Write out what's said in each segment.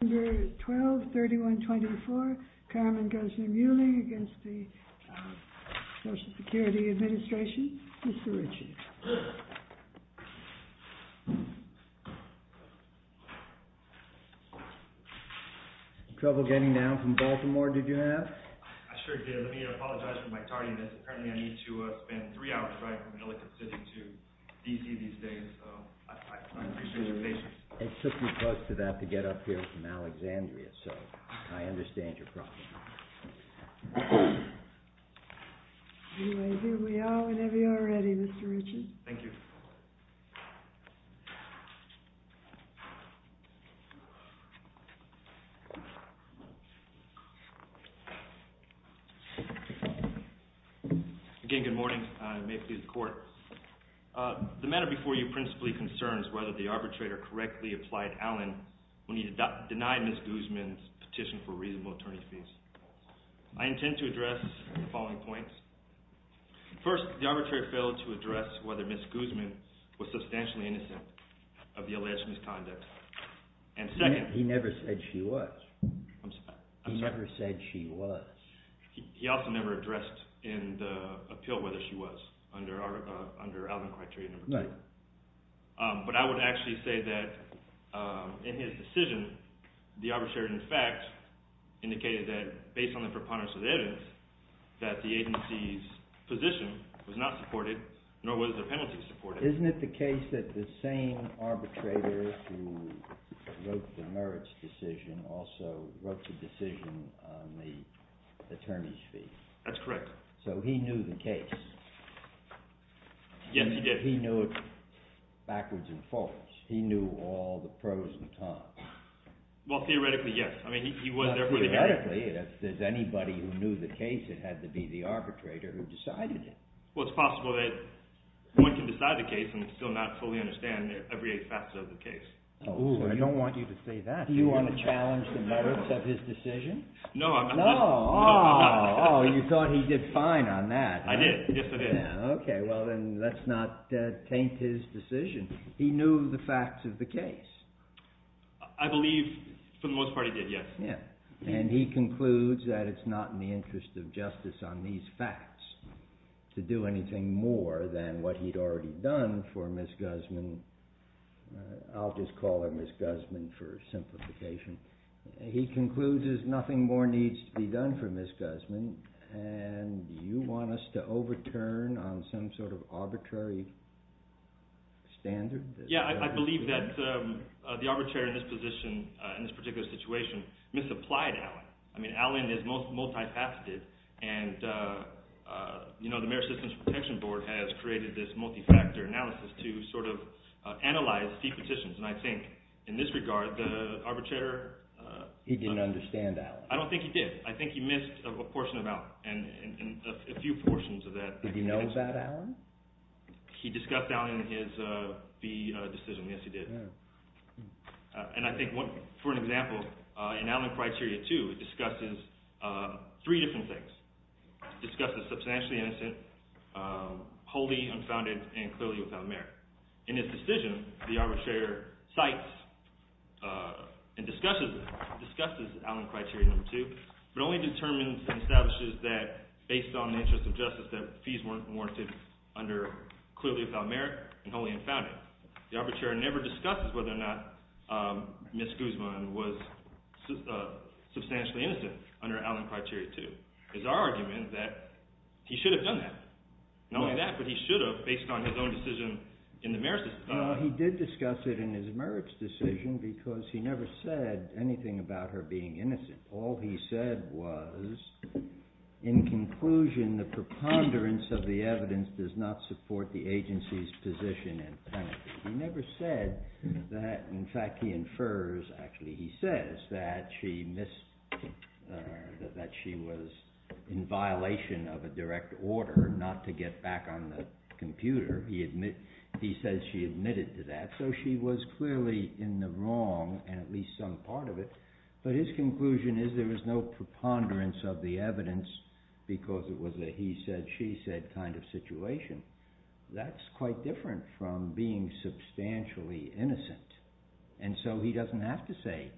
Number 12, 3124, Carmen Guzman-Ewling against the Social Security Administration, Mr. Ritchie. Trouble getting down from Baltimore, did you have? I sure did. Let me apologize for my tardiness. Apparently, I need to spend three hours driving from an elected city to D.C. these days. So, I appreciate your patience. It took me close to that to get up here from Alexandria, so I understand your problem. Anyway, here we are whenever you're ready, Mr. Ritchie. Thank you. Again, good morning. May it please the Court. The matter before you principally concerns whether the arbitrator correctly applied Allen when he denied Ms. Guzman's petition for reasonable attorney fees. I intend to address the following points. First, the arbitrator failed to address whether Ms. Guzman was substantially innocent of the alleged misconduct. And second... He never said she was. I'm sorry? He never said she was. He also never addressed in the appeal whether she was under Allen criteria number two. Right. But I would actually say that in his decision, the arbitrator, in fact, indicated that based on the preponderance of evidence, that the agency's position was not supported, nor was the penalty supported. Isn't it the case that the same arbitrator who wrote the merits decision also wrote the decision on the attorney's fee? That's correct. So he knew the case. Yes, he did. He knew it backwards and forwards. He knew all the pros and cons. Well, theoretically, yes. I mean, he was there for the hearing. Not theoretically. If there's anybody who knew the case, it had to be the arbitrator who decided it. Well, it's possible that one can decide the case and still not fully understand every facet of the case. Oh, I don't want you to say that. Do you want to challenge the merits of his decision? No, I'm not. Oh, you thought he did fine on that. I did. Yes, I did. Okay, well, then let's not taint his decision. He knew the facts of the case. I believe, for the most part, he did, yes. And he concludes that it's not in the interest of justice on these facts to do anything more than what he'd already done for Ms. Guzman. I'll just call her Ms. Guzman for simplification. He concludes that nothing more needs to be done for Ms. Guzman, and you want us to overturn on some sort of arbitrary standard? Yeah, I believe that the arbitrator in this particular situation misapplied Allen. I mean, Allen is multi-faceted, and the Merit Systems Protection Board has created this multi-factor analysis to sort of analyze the petitions. And I think, in this regard, the arbitrator— He didn't understand Allen. I don't think he did. I think he missed a portion of Allen, and a few portions of that— Did he know about Allen? He discussed Allen in his B decision. Yes, he did. And I think, for an example, in Allen Criteria 2, it discusses three different things. It discusses substantially innocent, wholly unfounded, and clearly without merit. In his decision, the arbitrator cites and discusses Allen Criteria 2, but only determines and establishes that, based on the interest of justice, that fees weren't warranted under clearly without merit and wholly unfounded. The arbitrator never discusses whether or not Ms. Guzman was substantially innocent under Allen Criteria 2. It's our argument that he should have done that. Not only that, but he should have, based on his own decision in the merit system. He never said anything about her being innocent. All he said was, in conclusion, the preponderance of the evidence does not support the agency's position and penalty. He never said that, in fact, he infers—actually, he says that she was in violation of a direct order not to get back on the computer. He says she admitted to that. So she was clearly in the wrong, and at least some part of it. But his conclusion is there was no preponderance of the evidence because it was a he-said-she-said kind of situation. That's quite different from being substantially innocent. And so he doesn't have to say,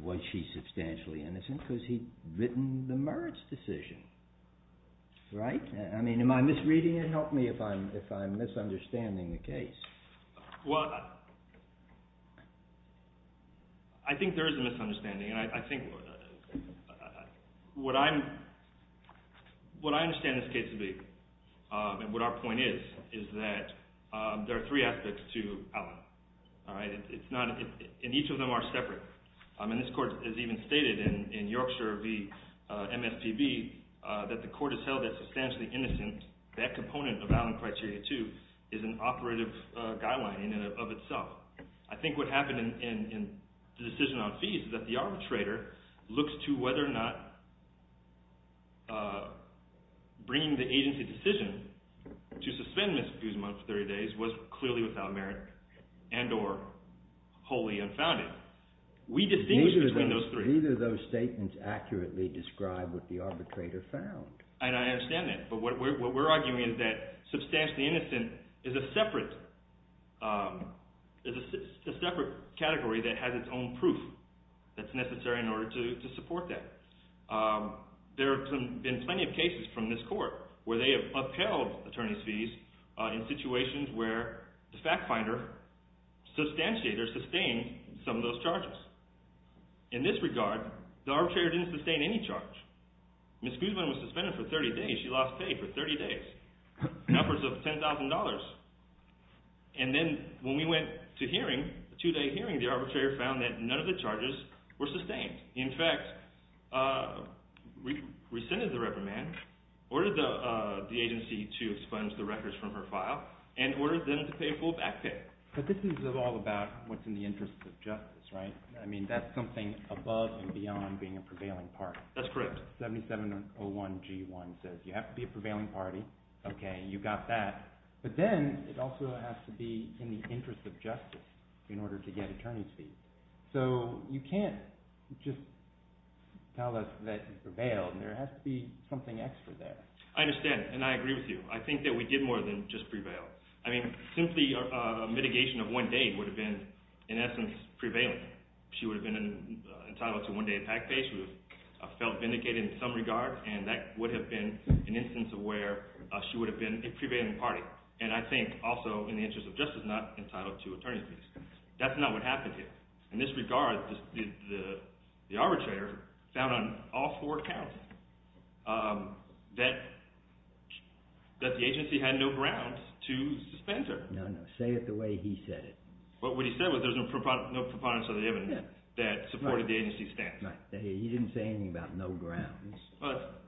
was she substantially innocent, because he'd written the merits decision. Right? I mean, am I misreading it? Help me if I'm misunderstanding the case. Well, I think there is a misunderstanding. And I think what I understand this case to be, and what our point is, is that there are three aspects to Allen. All right? It's not—and each of them are separate. And this court has even stated in Yorkshire v. MSPB that the court has held that substantially innocent, that component of Allen Criteria 2 is an operative guideline in and of itself. I think what happened in the decision on fees is that the arbitrator looks to whether or not bringing the agency decision to suspend Ms. Guzman for 30 days was clearly without merit and or wholly unfounded. We distinguish between those three. Neither of those statements accurately describe what the arbitrator found. And I understand that. But what we're arguing is that substantially innocent is a separate category that has its own proof that's necessary in order to support that. There have been plenty of cases from this court where they have upheld attorney's fees in situations where the fact finder substantiated or sustained some of those charges. In this regard, the arbitrator didn't sustain any charge. Ms. Guzman was suspended for 30 days. She lost pay for 30 days in efforts of $10,000. And then when we went to hearing, a two-day hearing, the arbitrator found that none of the charges were sustained. In fact, rescinded the reprimand, ordered the agency to expunge the records from her file, and ordered them to pay a full back pay. But this is all about what's in the interest of justice, right? I mean, that's something above and beyond being a prevailing party. That's correct. 7701G1 says you have to be a prevailing party. Okay, you got that. But then it also has to be in the interest of justice in order to get attorney's fees. So you can't just tell us that you prevailed. There has to be something extra there. I understand, and I agree with you. I think that we did more than just prevail. I mean, simply a mitigation of one day would have been, in essence, prevailing. She would have been entitled to one day of back pay. She would have felt vindicated in some regard, and that would have been an instance of where she would have been a prevailing party. And I think also in the interest of justice, not entitled to attorney's fees. That's not what happened here. In this regard, the arbitrator found on all four accounts that the agency had no grounds to suspend her. No, no. Say it the way he said it. What he said was there's no preponderance of the evidence that supported the agency's stance. Right. He didn't say anything about no grounds.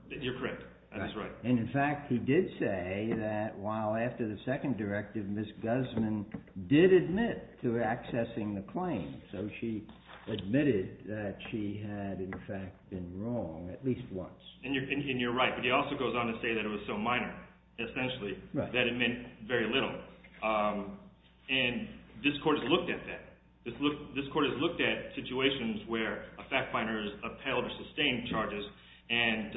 You're correct. That is right. And, in fact, he did say that while after the second directive, Ms. Guzman did admit to accessing the claim. So she admitted that she had, in fact, been wrong at least once. And you're right, but he also goes on to say that it was so minor, essentially, that it meant very little. And this Court has looked at that. This Court has looked at situations where a fact finder has upheld or sustained charges and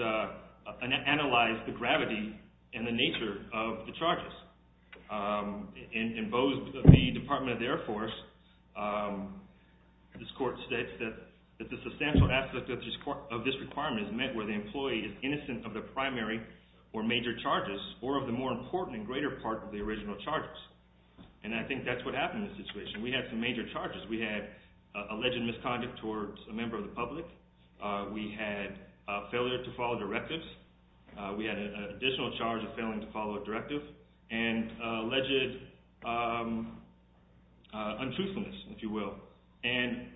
analyzed the gravity and the nature of the charges. In Boe's v. Department of the Air Force, this Court states that the substantial aspect of this requirement is met where the employee is innocent of the primary or major charges or of the more important and greater part of the original charges. And I think that's what happened in this situation. We had some major charges. We had alleged misconduct towards a member of the public. We had failure to follow directives. We had an additional charge of failing to follow a directive and alleged untruthfulness, if you will. And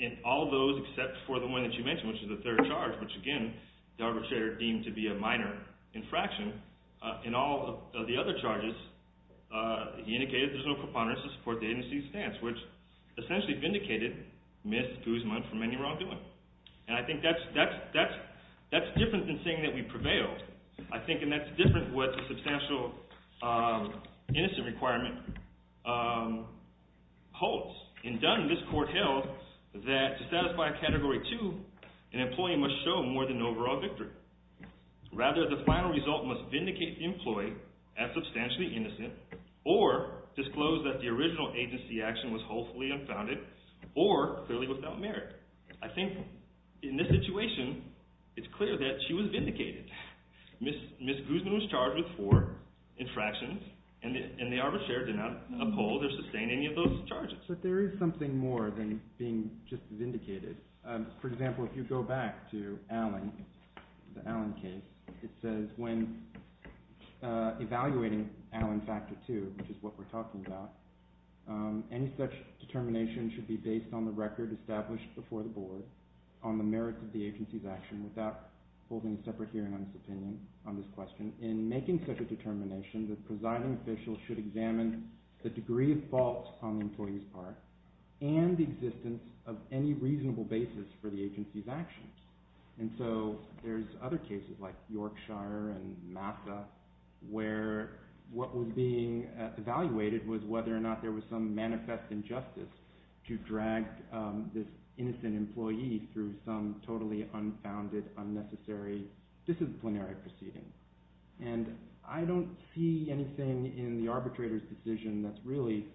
in all those except for the one that you mentioned, which is the third charge, which, again, the arbitrator deemed to be a minor infraction, in all of the other charges, he indicated there's no preponderance to support the agency's stance, which essentially vindicated Ms. Guzman from any wrongdoing. And I think that's different than saying that we prevailed. I think that's different what the substantial innocent requirement holds. In Dunn, this Court held that to satisfy a Category 2, an employee must show more than overall victory. Rather, the final result must vindicate the employee as substantially innocent or disclose that the original agency action was wholesomely unfounded or clearly without merit. I think in this situation, it's clear that she was vindicated. Ms. Guzman was charged with four infractions, and the arbitrator did not uphold or sustain any of those charges. But there is something more than being just vindicated. For example, if you go back to the Allen case, it says, when evaluating Allen Factor 2, which is what we're talking about, any such determination should be based on the record established before the Board on the merits of the agency's action without holding a separate hearing on its opinion on this question. In making such a determination, the presiding official should examine the degree of fault on the employee's part and the existence of any reasonable basis for the agency's actions. And so there's other cases like Yorkshire and Massa where what was being evaluated was whether or not there was some manifest injustice to drag this innocent employee through some totally unfounded, unnecessary disciplinary proceeding. And I don't see anything in the arbitrator's decision that's really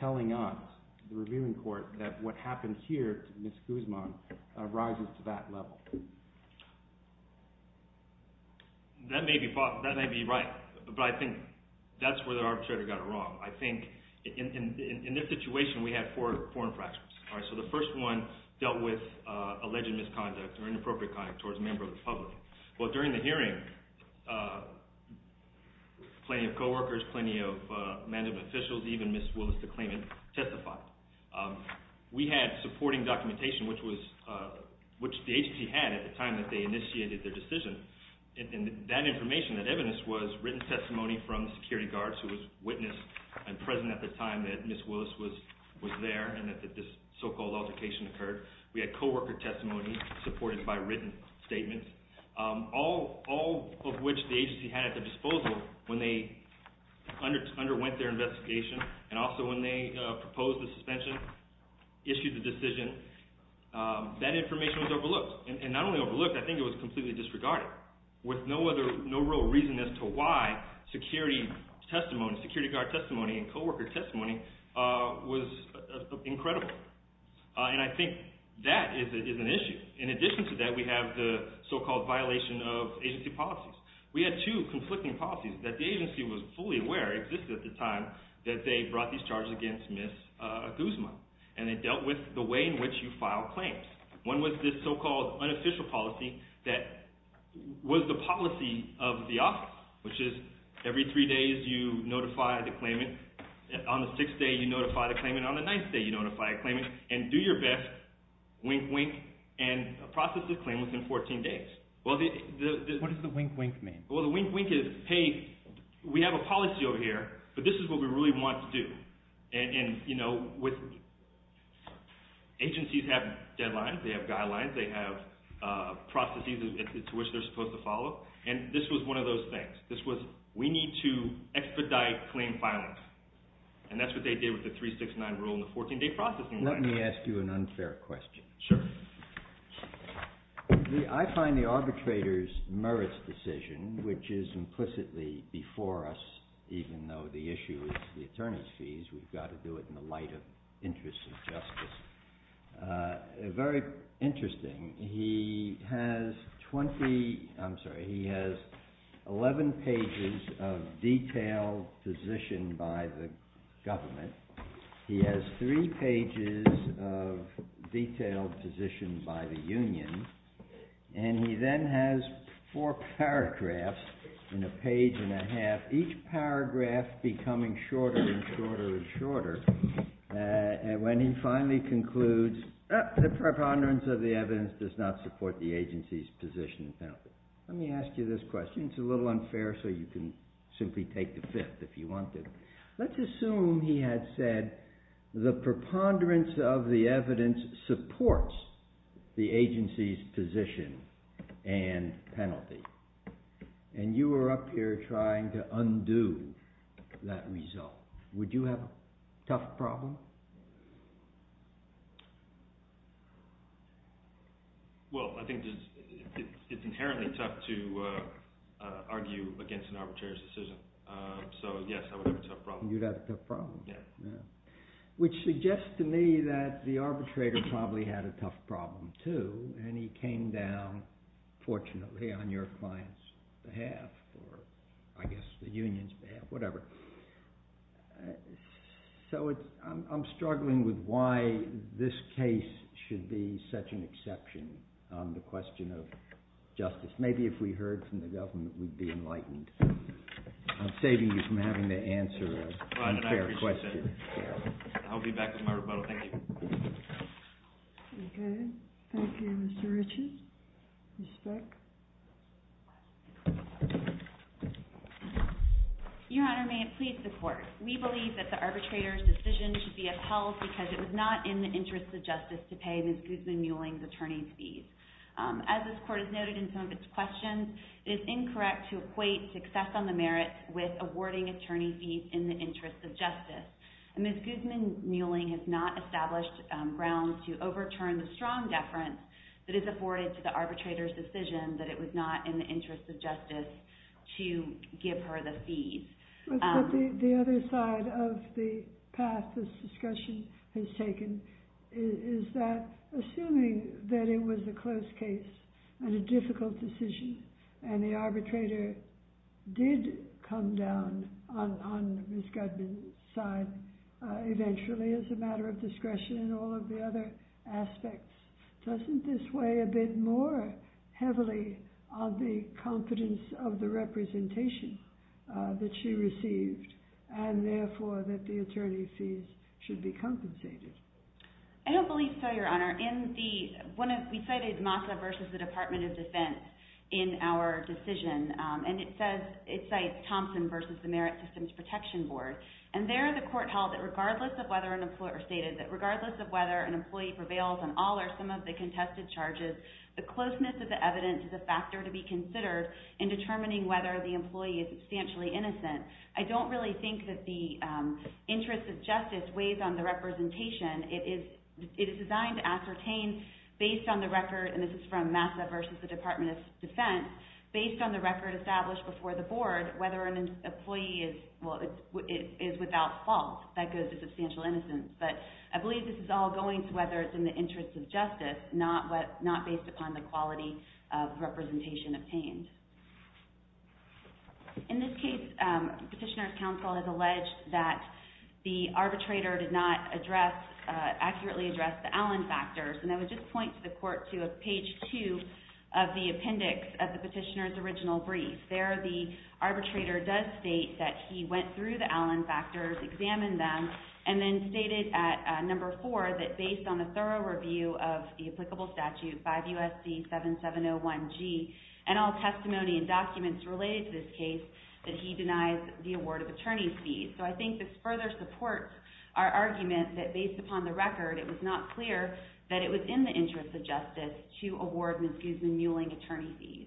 telling us, the reviewing court, that what happened here to Ms. Guzman rises to that level. That may be right, but I think that's where the arbitrator got it wrong. I think in this situation, we had four infractions. So the first one dealt with alleged misconduct or inappropriate conduct towards a member of the public. Well, during the hearing, plenty of co-workers, plenty of management officials, even Ms. Willis, the claimant, testified. We had supporting documentation, which the agency had at the time that they initiated their decision. And that information, that evidence, was written testimony from the security guards who was witness and present at the time that Ms. Willis was there and that this so-called altercation occurred. We had co-worker testimony supported by written statements, all of which the agency had at their disposal when they underwent their investigation and also when they proposed the suspension, issued the decision. That information was overlooked. And not only overlooked, I think it was completely disregarded with no real reason as to why security testimony, security guard testimony and co-worker testimony was incredible. And I think that is an issue. In addition to that, we have the so-called violation of agency policies. We had two conflicting policies that the agency was fully aware existed at the time that they brought these charges against Ms. Guzman. And they dealt with the way in which you file claims. One was this so-called unofficial policy that was the policy of the office, which is every three days you notify the claimant. On the sixth day you notify the claimant. On the ninth day you notify the claimant. And do your best, wink, wink, and process the claim within 14 days. What does the wink, wink mean? Well, the wink, wink is, hey, we have a policy over here, but this is what we really want to do. And, you know, agencies have deadlines. They have guidelines. They have processes to which they're supposed to follow. And this was one of those things. This was we need to expedite claim filing. And that's what they did with the 369 rule in the 14-day processing. Let me ask you an unfair question. Sure. I find the arbitrator's merits decision, which is implicitly before us, even though the issue is the attorney's fees, we've got to do it in the light of interests of justice, very interesting. He has 20, I'm sorry, he has 11 pages of detailed position by the government. He has three pages of detailed position by the union. And he then has four paragraphs in a page and a half, each paragraph becoming shorter and shorter and shorter. And when he finally concludes, the preponderance of the evidence does not support the agency's position and penalty. Let me ask you this question. It's a little unfair, so you can simply take the fifth if you want to. Let's assume he had said the preponderance of the evidence supports the agency's position and penalty. And you were up here trying to undo that result. Would you have a tough problem? Well, I think it's inherently tough to argue against an arbitrator's decision. So, yes, I would have a tough problem. You'd have a tough problem. Yes. Which suggests to me that the arbitrator probably had a tough problem, too, and he came down, fortunately, on your client's behalf, or I guess the union's behalf, whatever. So I'm struggling with why this case should be such an exception on the question of justice. Maybe if we heard from the government, we'd be enlightened. I'm saving you from having to answer an unfair question. I appreciate that. I'll be back with my rebuttal. Thank you. Okay. Thank you, Mr. Ritchie. Respect. Your Honor, may it please the Court. We believe that the arbitrator's decision should be upheld because it was not in the interest of justice to pay Ms. Guzman-Muelling's attorney's fees. As this Court has noted in some of its questions, it is incorrect to equate success on the merit with awarding attorney fees in the interest of justice. Ms. Guzman-Muelling has not established grounds to overturn the strong deference that is afforded to the arbitrator's decision that it was not in the interest of justice to give her the fees. The other side of the path this discussion has taken is that assuming that it was a closed case and a difficult decision and the arbitrator did come down on Ms. Guzman's side eventually as a matter of discretion and all of the other aspects, doesn't this weigh a bit more heavily on the confidence of the representation that she received and, therefore, that the attorney fees should be compensated? I don't believe so, Your Honor. Your Honor, we cited MASA versus the Department of Defense in our decision, and it cites Thompson versus the Merit Systems Protection Board. And there the Court held that regardless of whether an employee prevails on all or some of the contested charges, the closeness of the evidence is a factor to be considered in determining whether the employee is substantially innocent. I don't really think that the interest of justice weighs on the representation. It is designed to ascertain based on the record, and this is from MASA versus the Department of Defense, based on the record established before the Board, whether an employee is without fault that goes to substantial innocence. But I believe this is all going to whether it's in the interest of justice, not based upon the quality of representation obtained. In this case, Petitioner's Counsel has alleged that the arbitrator did not address, accurately address the Allen factors. And I would just point to the Court to page 2 of the appendix of the Petitioner's original brief. There the arbitrator does state that he went through the Allen factors, examined them, and then stated at number 4 that based on the thorough review of the applicable statute, 5 U.S.C. 7701G, and all testimony and documents related to this case, that he denies the award of attorney's fees. So I think this further supports our argument that based upon the record, it was not clear that it was in the interest of justice to award Ms. Guzman-Newling attorney's fees.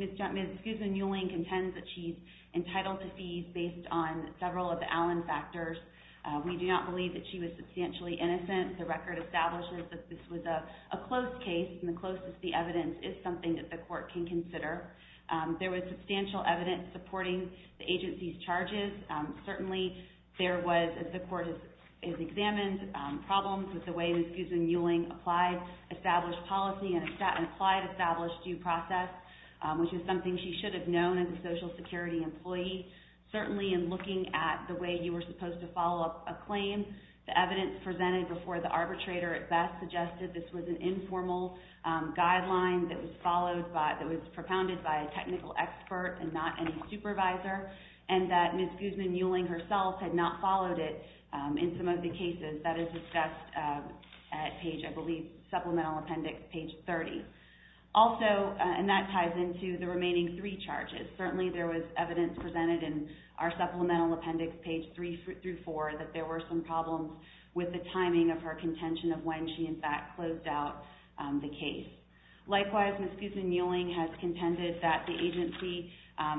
Ms. Guzman-Newling contends that she's entitled to fees based on several of the Allen factors. We do not believe that she was substantially innocent. The record establishes that this was a closed case, and the closest the evidence is something that the Court can consider. There was substantial evidence supporting the agency's charges. Certainly, there was, as the Court has examined, problems with the way Ms. Guzman-Newling applied established policy and applied established due process, which is something she should have known as a Social Security employee. Certainly, in looking at the way you were supposed to follow up a claim, the evidence presented before the arbitrator at best suggested this was an informal guideline that was followed by, that was propounded by a technical expert and not any supervisor, and that Ms. Guzman-Newling herself had not followed it in some of the cases. That is discussed at page, I believe, supplemental appendix page 30. Also, and that ties into the remaining three charges. Certainly, there was evidence presented in our supplemental appendix, page 3 through 4, that there were some problems with the timing of her contention of when she, in fact, closed out the case. Likewise, Ms. Guzman-Newling has contended that the agency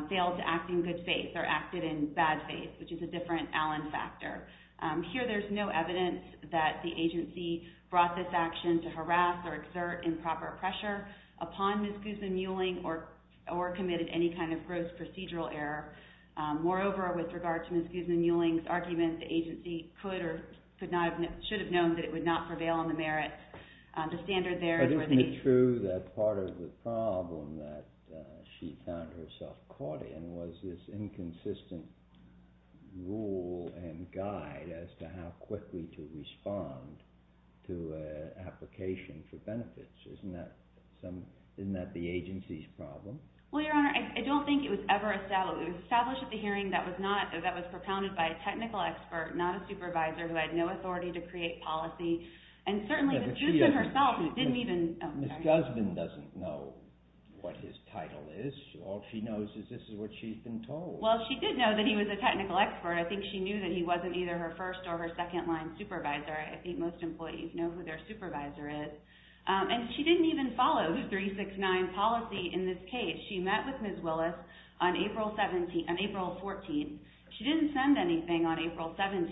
failed to act in good faith or acted in bad faith, which is a different Allen factor. Here, there's no evidence that the agency brought this action to harass or exert improper pressure upon Ms. Guzman-Newling or committed any kind of gross procedural error. Moreover, with regard to Ms. Guzman-Newling's argument, the agency could or should have known that it would not prevail on the merits. Isn't it true that part of the problem that she found herself caught in was this inconsistent rule and guide as to how quickly to respond to an application for benefits? Isn't that the agency's problem? Well, Your Honor, I don't think it was ever established. It was established at the hearing that was propounded by a technical expert, not a supervisor, who had no authority to create policy. Ms. Guzman-Newling doesn't know what his title is. All she knows is this is what she's been told. Well, she did know that he was a technical expert. I think she knew that he wasn't either her first or her second-line supervisor. I think most employees know who their supervisor is. And she didn't even follow the 369 policy in this case. She met with Ms. Willis on April 14. She didn't send anything on April 17.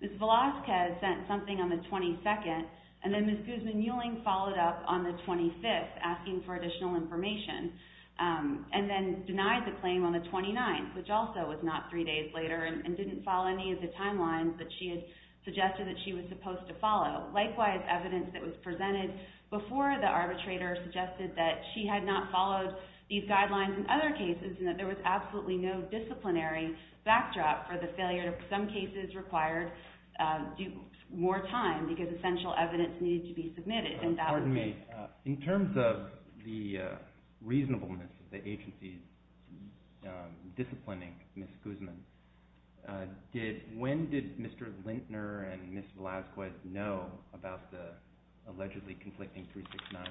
Ms. Velazquez sent something on the 22nd, and then Ms. Guzman-Newling followed up on the 25th, asking for additional information, and then denied the claim on the 29th, which also was not three days later and didn't follow any of the timelines that she had suggested that she was supposed to follow. Likewise, evidence that was presented before the arbitrator suggested that she had not followed these guidelines in other cases and that there was absolutely no disciplinary backdrop for the failure to, in some cases, require more time because essential evidence needed to be submitted. In terms of the reasonableness of the agency disciplining Ms. Guzman, when did Mr. Lintner and Ms. Velazquez know about the allegedly conflicting 369?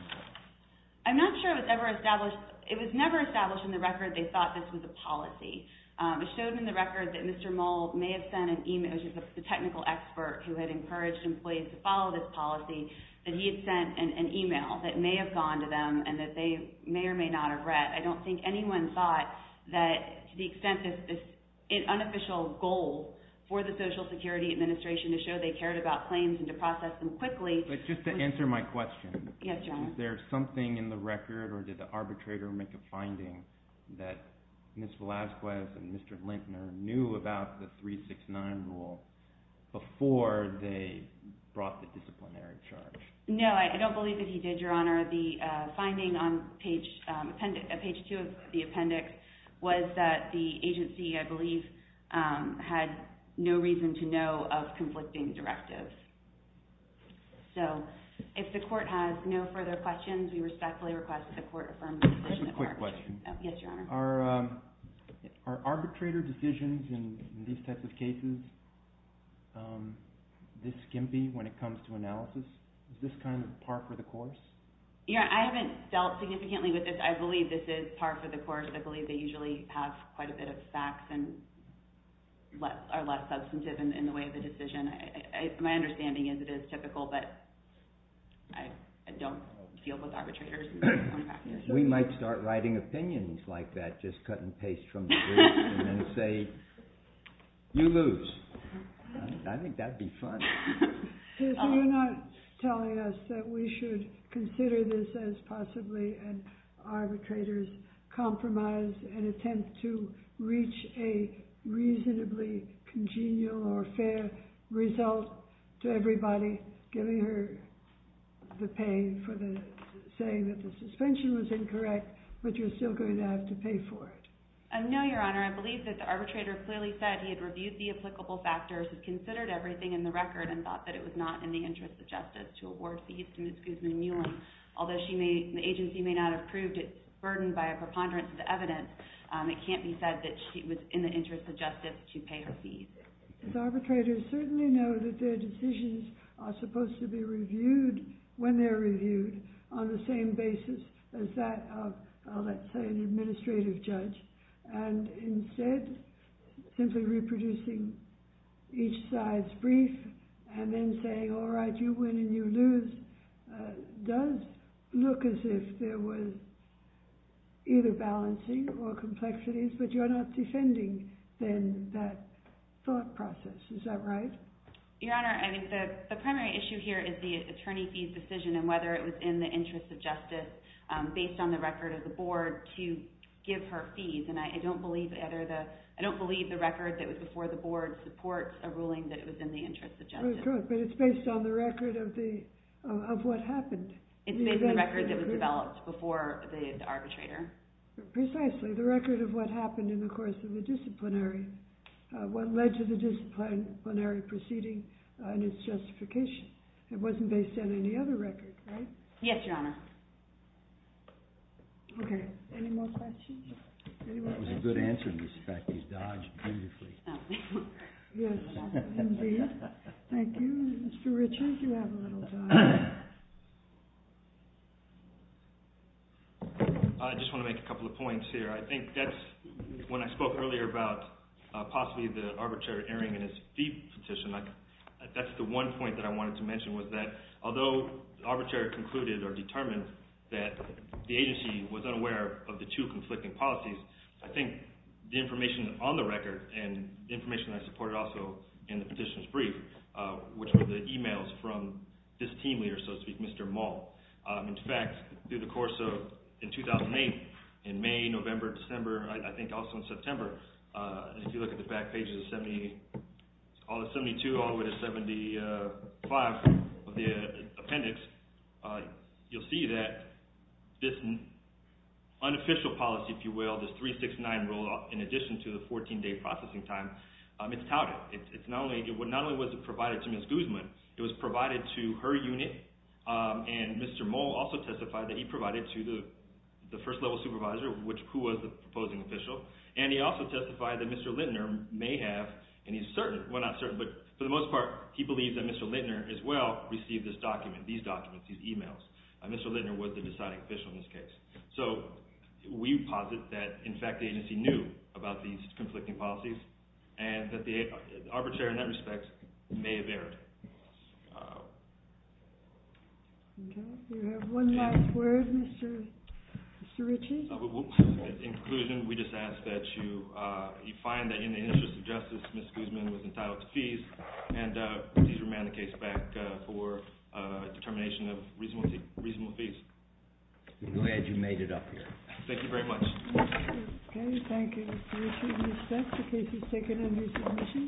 I'm not sure it was ever established. It was never established in the record they thought this was a policy. It was shown in the record that Mr. Mould may have sent an email to the technical expert who had encouraged employees to follow this policy, that he had sent an email that may have gone to them and that they may or may not have read. I don't think anyone thought that to the extent this is an unofficial goal for the Social Security Administration to show they cared about claims and to process them quickly. Just to answer my question, is there something in the record or did the arbitrator make a finding that Ms. Velazquez and Mr. Lintner knew about the 369 rule before they brought the disciplinary charge? No, I don't believe that he did, Your Honor. The finding on page 2 of the appendix was that the agency, I believe, had no reason to know of conflicting directives. So, if the court has no further questions, we respectfully request that the court affirm the decision at large. Just a quick question. Yes, Your Honor. Are arbitrator decisions in these types of cases this skimpy when it comes to analysis? Is this kind of par for the course? Yeah, I haven't dealt significantly with this. I believe this is par for the course. I believe they usually have quite a bit of facts and are less substantive in the way of the decision. My understanding is it is typical, but I don't deal with arbitrators. We might start writing opinions like that, just cut and paste from the briefs and then say, you lose. I think that would be fun. So, you're not telling us that we should consider this as possibly an arbitrator's compromise and attempt to reach a reasonably congenial or fair result to everybody, giving her the pain for saying that the suspension was incorrect, but you're still going to have to pay for it? No, Your Honor. I believe that the arbitrator clearly said he had reviewed the applicable factors, had considered everything in the record, and thought that it was not in the interest of justice to award fees to Ms. Guzman-Newland. Although the agency may not have proved its burden by a preponderance of evidence, it can't be said that she was in the interest of justice to pay her fees. Arbitrators certainly know that their decisions are supposed to be reviewed when they're reviewed on the same basis as that of, let's say, an administrative judge. And instead, simply reproducing each side's brief and then saying, all right, you win and you lose, does look as if there was either balancing or complexities, but you're not defending, then, that thought process. Is that right? Your Honor, the primary issue here is the attorney fees decision and whether it was in the interest of justice, based on the record of the board, to give her fees. And I don't believe the record that was before the board supports a ruling that it was in the interest of justice. But it's based on the record of what happened. It's based on the record that was developed before the arbitrator. Precisely, the record of what happened in the course of the disciplinary, what led to the disciplinary proceeding and its justification. It wasn't based on any other record, right? Yes, Your Honor. Okay, any more questions? That was a good answer to the fact that you dodged beautifully. Yes, indeed. Thank you. Mr. Richards, you have a little time. I just want to make a couple of points here. I think that's, when I spoke earlier about possibly the arbitrator entering in his fee petition, that's the one point that I wanted to mention, was that although the arbitrator concluded or determined that the agency was unaware of the two conflicting policies, I think the information on the record and the information that I supported also in the petition's brief, which were the emails from this team leader, so to speak, Mr. Maul. In fact, through the course of, in 2008, in May, November, December, I think also in September, if you look at the back pages of 72 all the way to 75 of the appendix, you'll see that this unofficial policy, if you will, this 369 rule, in addition to the 14-day processing time, it's touted. Not only was it provided to Ms. Guzman, it was provided to her unit, and Mr. Maul also testified that he provided to the first-level supervisor, who was the proposing official, and he also testified that Mr. Lintner may have, and he's certain, well, not certain, but for the most part, he believes that Mr. Lintner as well received this document, these documents, these emails. Mr. Lintner was the deciding official in this case. So we posit that, in fact, the agency knew about these conflicting policies and that the arbitrator, in that respect, may have erred. Okay. Do you have one last word, Mr. Ritchie? In conclusion, we just ask that you find that in the interest of justice, Ms. Guzman was entitled to fees, and please remand the case back for determination of reasonable fees. I'm glad you made it up here. Thank you very much. Okay. Thank you, Mr. Ritchie. We expect the case is taken under submission.